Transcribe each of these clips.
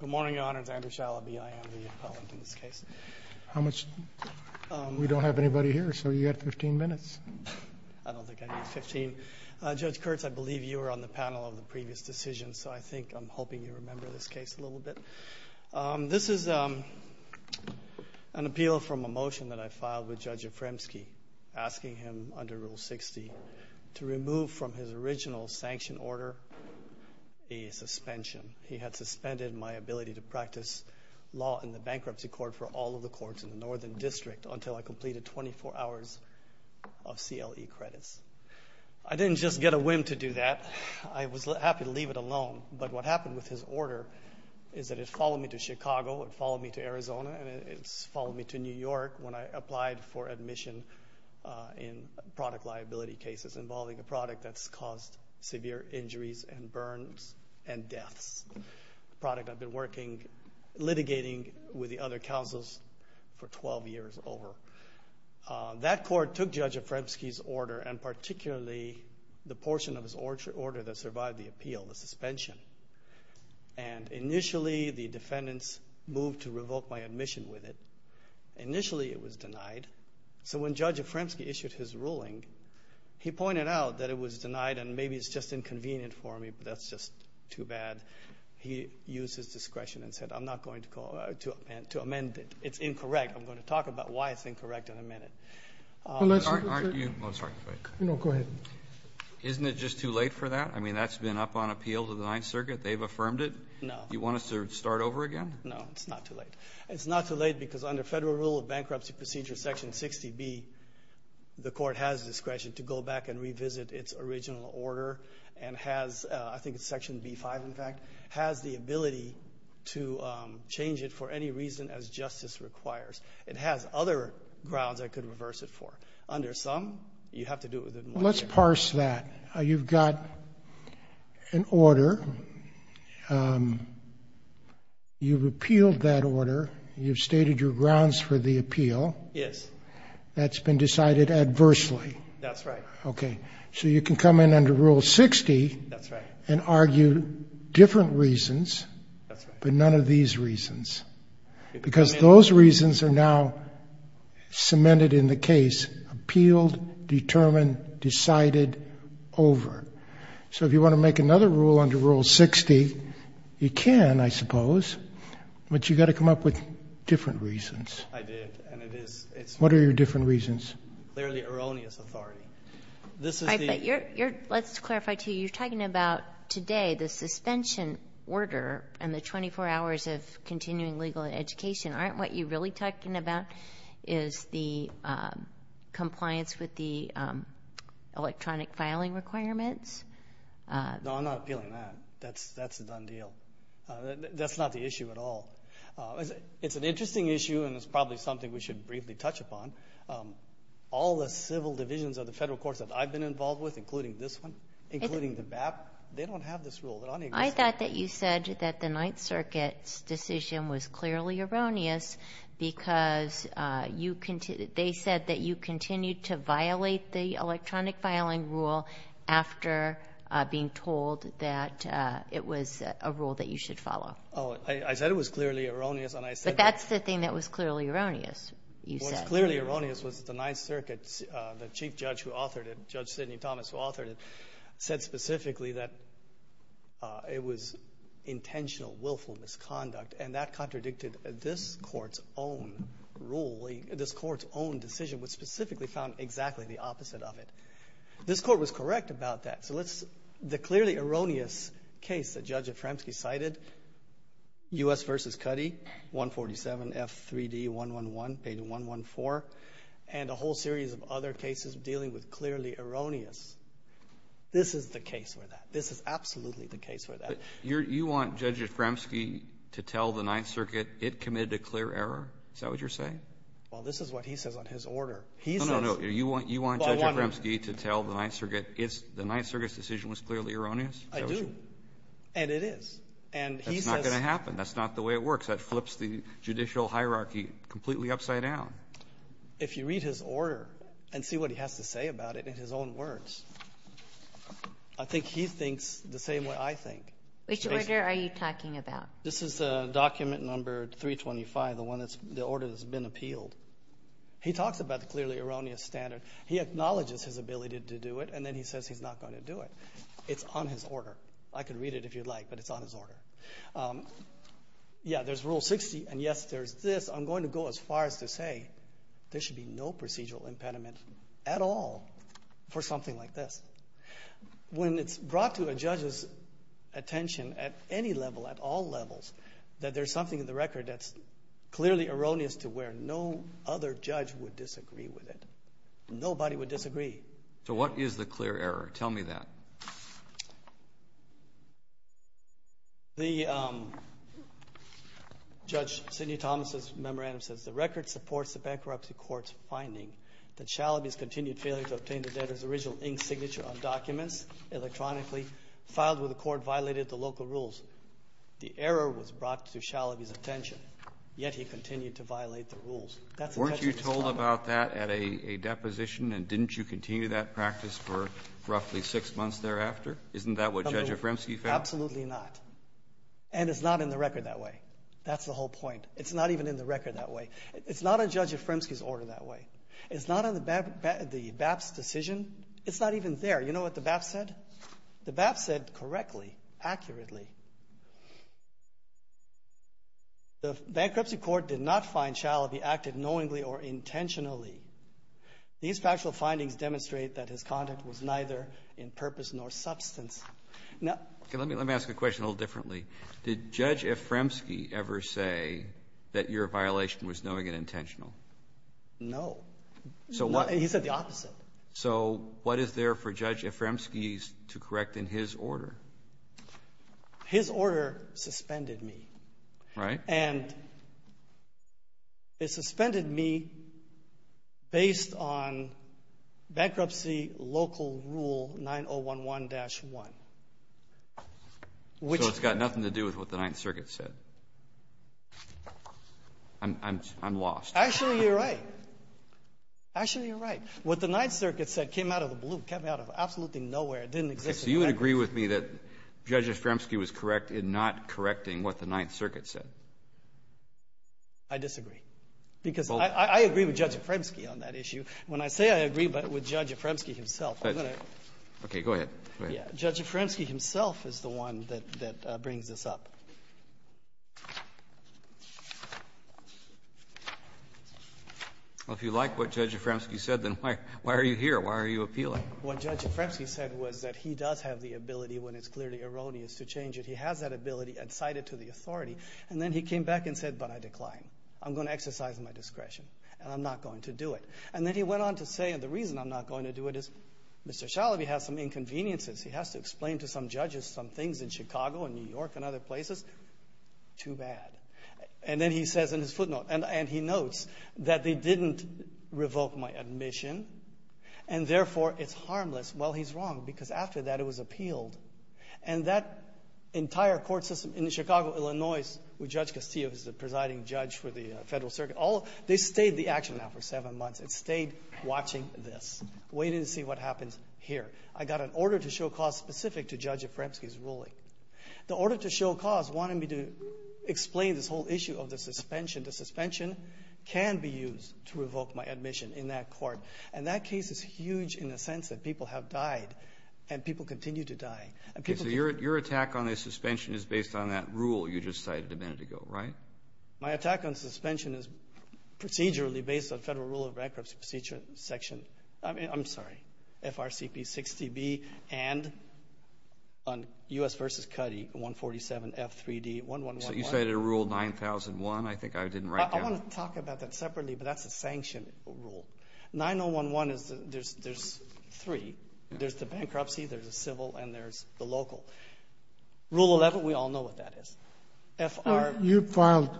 Good morning, Your Honor. It's Andrew Shalaby. I am the appellant in this case. We don't have anybody here, so you've got 15 minutes. I don't think I need 15. Judge Kurtz, I believe you were on the panel of the previous decision, so I think I'm hoping you remember this case a little bit. This is an appeal from a motion that I filed with Judge Afremsky, asking him, under Rule 60, to remove from his original sanction order a suspension. He had suspended my ability to practice law in the bankruptcy court for all of the courts in the Northern District until I completed 24 hours of CLE credits. I didn't just get a whim to do that. I was happy to leave it alone. But what happened with his order is that it followed me to Chicago, it followed me to Arizona, and it followed me to New York when I applied for admission in product liability cases involving a product that's caused severe injuries and burns and deaths, a product I've been working, litigating with the other counsels for 12 years over. That court took Judge Afremsky's order and particularly the portion of his order that survived the appeal, the suspension, and initially the defendants moved to revoke my admission with it. Initially it was denied. So when Judge Afremsky issued his ruling, he pointed out that it was denied and maybe it's just inconvenient for me, but that's just too bad. He used his discretion and said, I'm not going to amend it. It's incorrect. I'm going to talk about why it's incorrect in a minute. Aren't you? Oh, sorry. No, go ahead. Isn't it just too late for that? I mean, that's been up on appeal to the Ninth Circuit. They've affirmed it. No. Do you want us to start over again? No, it's not too late. It's not too late because under Federal Rule of Bankruptcy Procedure Section 60B, the court has discretion to go back and revisit its original order and has, I think it's Section B-5, in fact, has the ability to change it for any reason as justice requires. It has other grounds I could reverse it for. Under some, you have to do it within one year. Let's parse that. You've got an order. You've appealed that order. You've stated your grounds for the appeal. Yes. That's been decided adversely. That's right. Okay. So you can come in under Rule 60 and argue different reasons but none of these reasons because those reasons are now cemented in the case, appealed, determined, decided over. So if you want to make another rule under Rule 60, you can, I suppose, but you've got to come up with different reasons. I did. What are your different reasons? Clearly erroneous authority. Let's clarify to you. You're talking about today the suspension order and the 24 hours of continuing legal education. Aren't what you're really talking about is the compliance with the electronic filing requirements? No, I'm not appealing that. That's a done deal. That's not the issue at all. It's an interesting issue and it's probably something we should briefly touch upon. All the civil divisions of the federal courts that I've been involved with, including this one, including the BAP, they don't have this rule. I thought that you said that the Ninth Circuit's decision was clearly erroneous because they said that you continued to violate the electronic filing rule after being told that it was a rule that you should follow. I said it was clearly erroneous. But that's the thing that was clearly erroneous, you said. What was clearly erroneous was that the Ninth Circuit, the chief judge who authored it, said specifically that it was intentional willful misconduct, and that contradicted this court's own ruling. This court's own decision was specifically found exactly the opposite of it. This court was correct about that. The clearly erroneous case that Judge Efremsky cited, U.S. v. Cuddy, 147, F3D111, page 114, and a whole series of other cases dealing with clearly erroneous, this is the case for that. This is absolutely the case for that. You want Judge Efremsky to tell the Ninth Circuit it committed a clear error? Is that what you're saying? Well, this is what he says on his order. No, no, no. You want Judge Efremsky to tell the Ninth Circuit the Ninth Circuit's decision was clearly erroneous? I do. And it is. That's not going to happen. That's not the way it works. That flips the judicial hierarchy completely upside down. If you read his order and see what he has to say about it in his own words, I think he thinks the same way I think. Which order are you talking about? This is document number 325, the order that's been appealed. He talks about the clearly erroneous standard. He acknowledges his ability to do it, and then he says he's not going to do it. It's on his order. I could read it if you'd like, but it's on his order. Yeah, there's Rule 60, and, yes, there's this. I'm going to go as far as to say there should be no procedural impediment at all for something like this. When it's brought to a judge's attention at any level, at all levels, that there's something in the record that's clearly erroneous to where no other judge would disagree with it, nobody would disagree. So what is the clear error? Tell me that. The Judge Sidney Thomas's memorandum says, the record supports the bankruptcy court's finding that Shalaby's continued failure to obtain the debtor's original ink signature on documents electronically filed with the court violated the local rules. The error was brought to Shalaby's attention, yet he continued to violate the rules. That's the text of his file. Weren't you told about that at a deposition, and didn't you continue that practice for roughly six months thereafter? Isn't that what Judge Efremsky found? Absolutely not. And it's not in the record that way. That's the whole point. It's not even in the record that way. It's not on Judge Efremsky's order that way. It's not on the BAP's decision. It's not even there. You know what the BAP said? The BAP said correctly, accurately, the bankruptcy court did not find Shalaby acted knowingly or intentionally. These factual findings demonstrate that his conduct was neither in purpose nor substance. Now ---- Okay. Let me ask a question a little differently. Did Judge Efremsky ever say that your violation was knowing and intentional? No. So what ---- He said the opposite. So what is there for Judge Efremsky to correct in his order? His order suspended me. Right. And it suspended me based on bankruptcy local rule 9011-1, which ---- So it's got nothing to do with what the Ninth Circuit said. I'm lost. Actually, you're right. Actually, you're right. What the Ninth Circuit said came out of the blue, came out of absolutely nowhere. It didn't exist. So you would agree with me that Judge Efremsky was correct in not correcting what the Ninth Circuit said? I disagree. Because I agree with Judge Efremsky on that issue. When I say I agree with Judge Efremsky himself, I'm going to ---- Okay. Go ahead. Go ahead. Judge Efremsky himself is the one that brings this up. Well, if you like what Judge Efremsky said, then why are you here? Why are you appealing? What Judge Efremsky said was that he does have the ability when it's clearly erroneous to change it. He has that ability and cite it to the authority. And then he came back and said, but I declined. I'm going to exercise my discretion, and I'm not going to do it. And then he went on to say, and the reason I'm not going to do it is Mr. Shalaby has some inconveniences. He has to explain to some judges some things in Chicago and New York and other places. Too bad. And then he says in his footnote, and he notes that they didn't revoke my because after that it was appealed. And that entire court system in Chicago, Illinois, with Judge Castillo, who's the presiding judge for the Federal Circuit, they stayed the action now for seven months. It stayed watching this, waiting to see what happens here. I got an order to show cause specific to Judge Efremsky's ruling. The order to show cause wanted me to explain this whole issue of the suspension. The suspension can be used to revoke my admission in that court. And that case is huge in the sense that people have died, and people continue to die. So your attack on the suspension is based on that rule you just cited a minute ago, right? My attack on suspension is procedurally based on Federal Rule of Bankruptcy Procedure Section, I'm sorry, FRCP 60B and on U.S. v. Cuddy 147F3D1111. So you cited a rule 9001? I think I didn't write that. I want to talk about that separately, but that's a sanction rule. 9011, there's three. There's the bankruptcy, there's the civil, and there's the local. Rule 11, we all know what that is. FR ---- You filed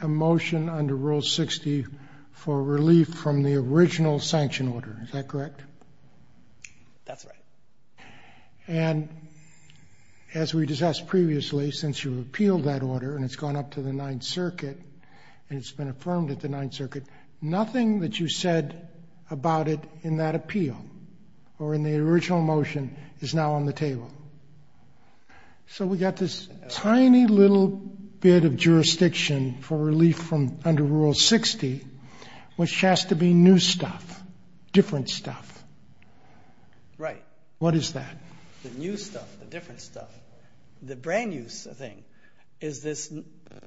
a motion under Rule 60 for relief from the original sanction order. Is that correct? That's right. And as we discussed previously, since you appealed that order and it's gone up to the Ninth Circuit, nothing that you said about it in that appeal or in the original motion is now on the table. So we've got this tiny little bit of jurisdiction for relief from under Rule 60, which has to be new stuff, different stuff. Right. What is that? The new stuff, the different stuff. The brand-new thing is this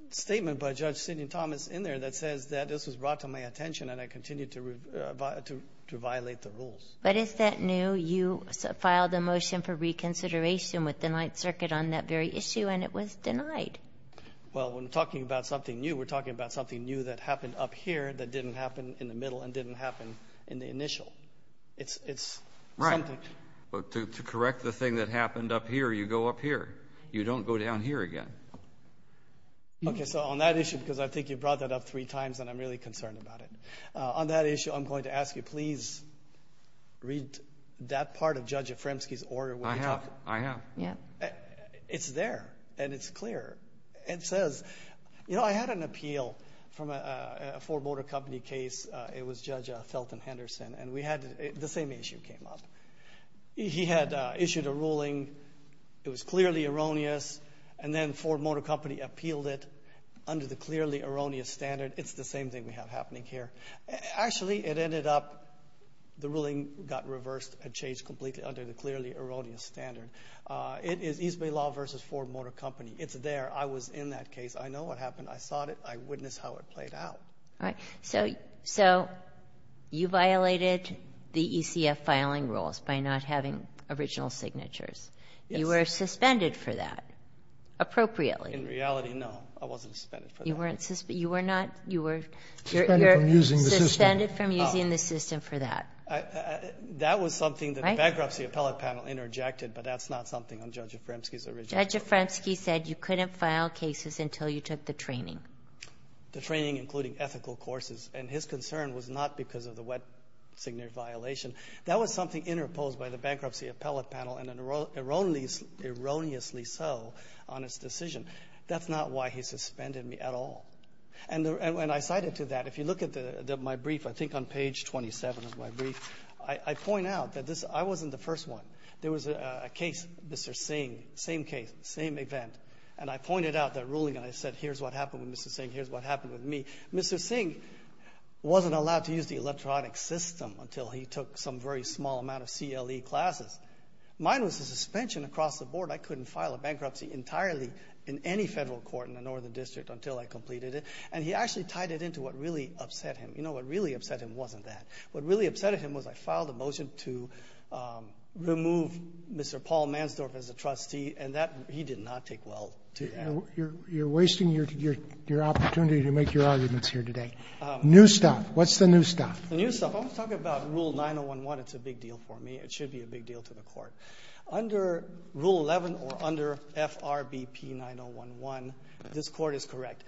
statement by Judge Sidney Thomas in there that says that this was brought to my attention and I continue to violate the rules. But is that new? You filed a motion for reconsideration with the Ninth Circuit on that very issue and it was denied. Well, we're talking about something new. We're talking about something new that happened up here that didn't happen in the middle and didn't happen in the initial. It's something. Right. But to correct the thing that happened up here, you go up here. You don't go down here again. Okay. So on that issue, because I think you brought that up three times and I'm really concerned about it. On that issue, I'm going to ask you please read that part of Judge Efremsky's order. I have. I have. Yeah. It's there and it's clear. It says, you know, I had an appeal from a Ford Motor Company case. It was Judge Felton Henderson. And we had the same issue came up. He had issued a ruling. It was clearly erroneous. And then Ford Motor Company appealed it under the clearly erroneous standard. It's the same thing we have happening here. Actually, it ended up the ruling got reversed and changed completely under the clearly erroneous standard. It is East Bay Law versus Ford Motor Company. It's there. I was in that case. I know what happened. I saw it. I witnessed how it played out. All right. So you violated the ECF filing rules by not having original signatures. Yes. You were suspended for that appropriately. In reality, no. I wasn't suspended for that. You weren't suspended. You were not. You were suspended from using the system for that. That was something that the bankruptcy appellate panel interjected, but that's not something on Judge Efremsky's original rule. Judge Efremsky said you couldn't file cases until you took the training. The training, including ethical courses. And his concern was not because of the wet signature violation. That was something interposed by the bankruptcy appellate panel, and erroneously so on its decision. That's not why he suspended me at all. And I cited to that, if you look at my brief, I think on page 27 of my brief, I point out that this — I wasn't the first one. There was a case, Mr. Singh, same case, same event. And I pointed out that ruling, and I said, here's what happened with Mr. Singh. Here's what happened with me. Mr. Singh wasn't allowed to use the electronic system until he took some very small amount of CLE classes. Mine was a suspension across the board. I couldn't file a bankruptcy entirely in any federal court in the Northern District until I completed it. And he actually tied it into what really upset him. You know, what really upset him wasn't that. What really upset him was I filed a motion to remove Mr. Paul Mansdorf as a trustee, and that he did not take well to that. You're wasting your opportunity to make your arguments here today. New stuff. What's the new stuff? The new stuff. If I'm talking about Rule 9011, it's a big deal for me. It should be a big deal to the Court. Under Rule 11 or under FRBP 9011, this Court is correct.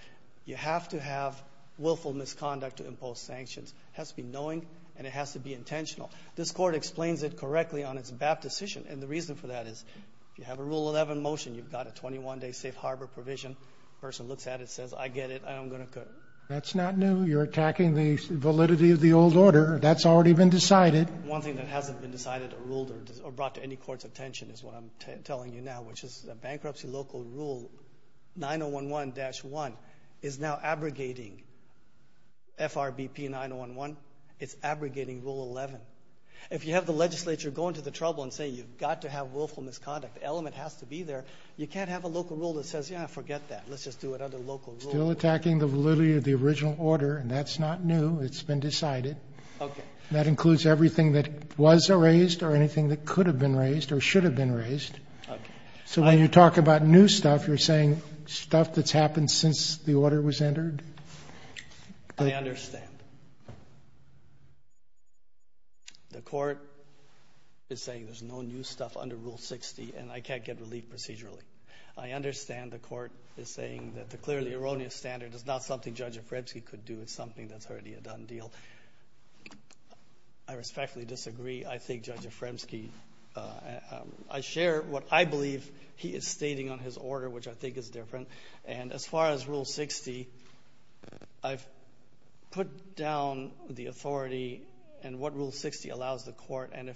You have to have willful misconduct to impose sanctions. It has to be knowing, and it has to be intentional. This Court explains it correctly on its BAP decision. And the reason for that is if you have a Rule 11 motion, you've got a 21-day safe harbor provision. The person looks at it and says, I get it, I'm going to cut it. That's not new. You're attacking the validity of the old order. That's already been decided. One thing that hasn't been decided or ruled or brought to any court's attention is what I'm telling you now, which is a bankruptcy local rule, 9011-1, is now abrogating FRBP 9011. It's abrogating Rule 11. If you have the legislature going to the trouble and saying you've got to have willful misconduct, the element has to be there. You can't have a local rule that says, yeah, forget that, let's just do it under local rule. Still attacking the validity of the original order, and that's not new. It's been decided. Okay. That includes everything that was raised or anything that could have been raised or should have been raised. Okay. So when you talk about new stuff, you're saying stuff that's happened since the order was entered? I understand. The court is saying there's no new stuff under Rule 60, and I can't get relief procedurally. I understand the court is saying that the clearly erroneous standard is not something Judge Afremsky could do. It's something that's already a done deal. I respectfully disagree. I think Judge Afremsky, I share what I believe he is stating on his order, which I think is different. And as far as Rule 60, I've put down the authority and what Rule 60 allows the court. And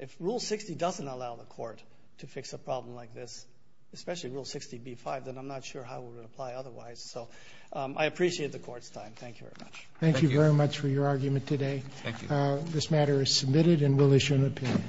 if Rule 60 doesn't allow the court to fix a problem like this, especially Rule 60b-5, then I'm not sure how it would apply otherwise. So I appreciate the court's time. Thank you very much. Thank you very much for your argument today. Thank you. This matter is submitted and we'll issue an opinion.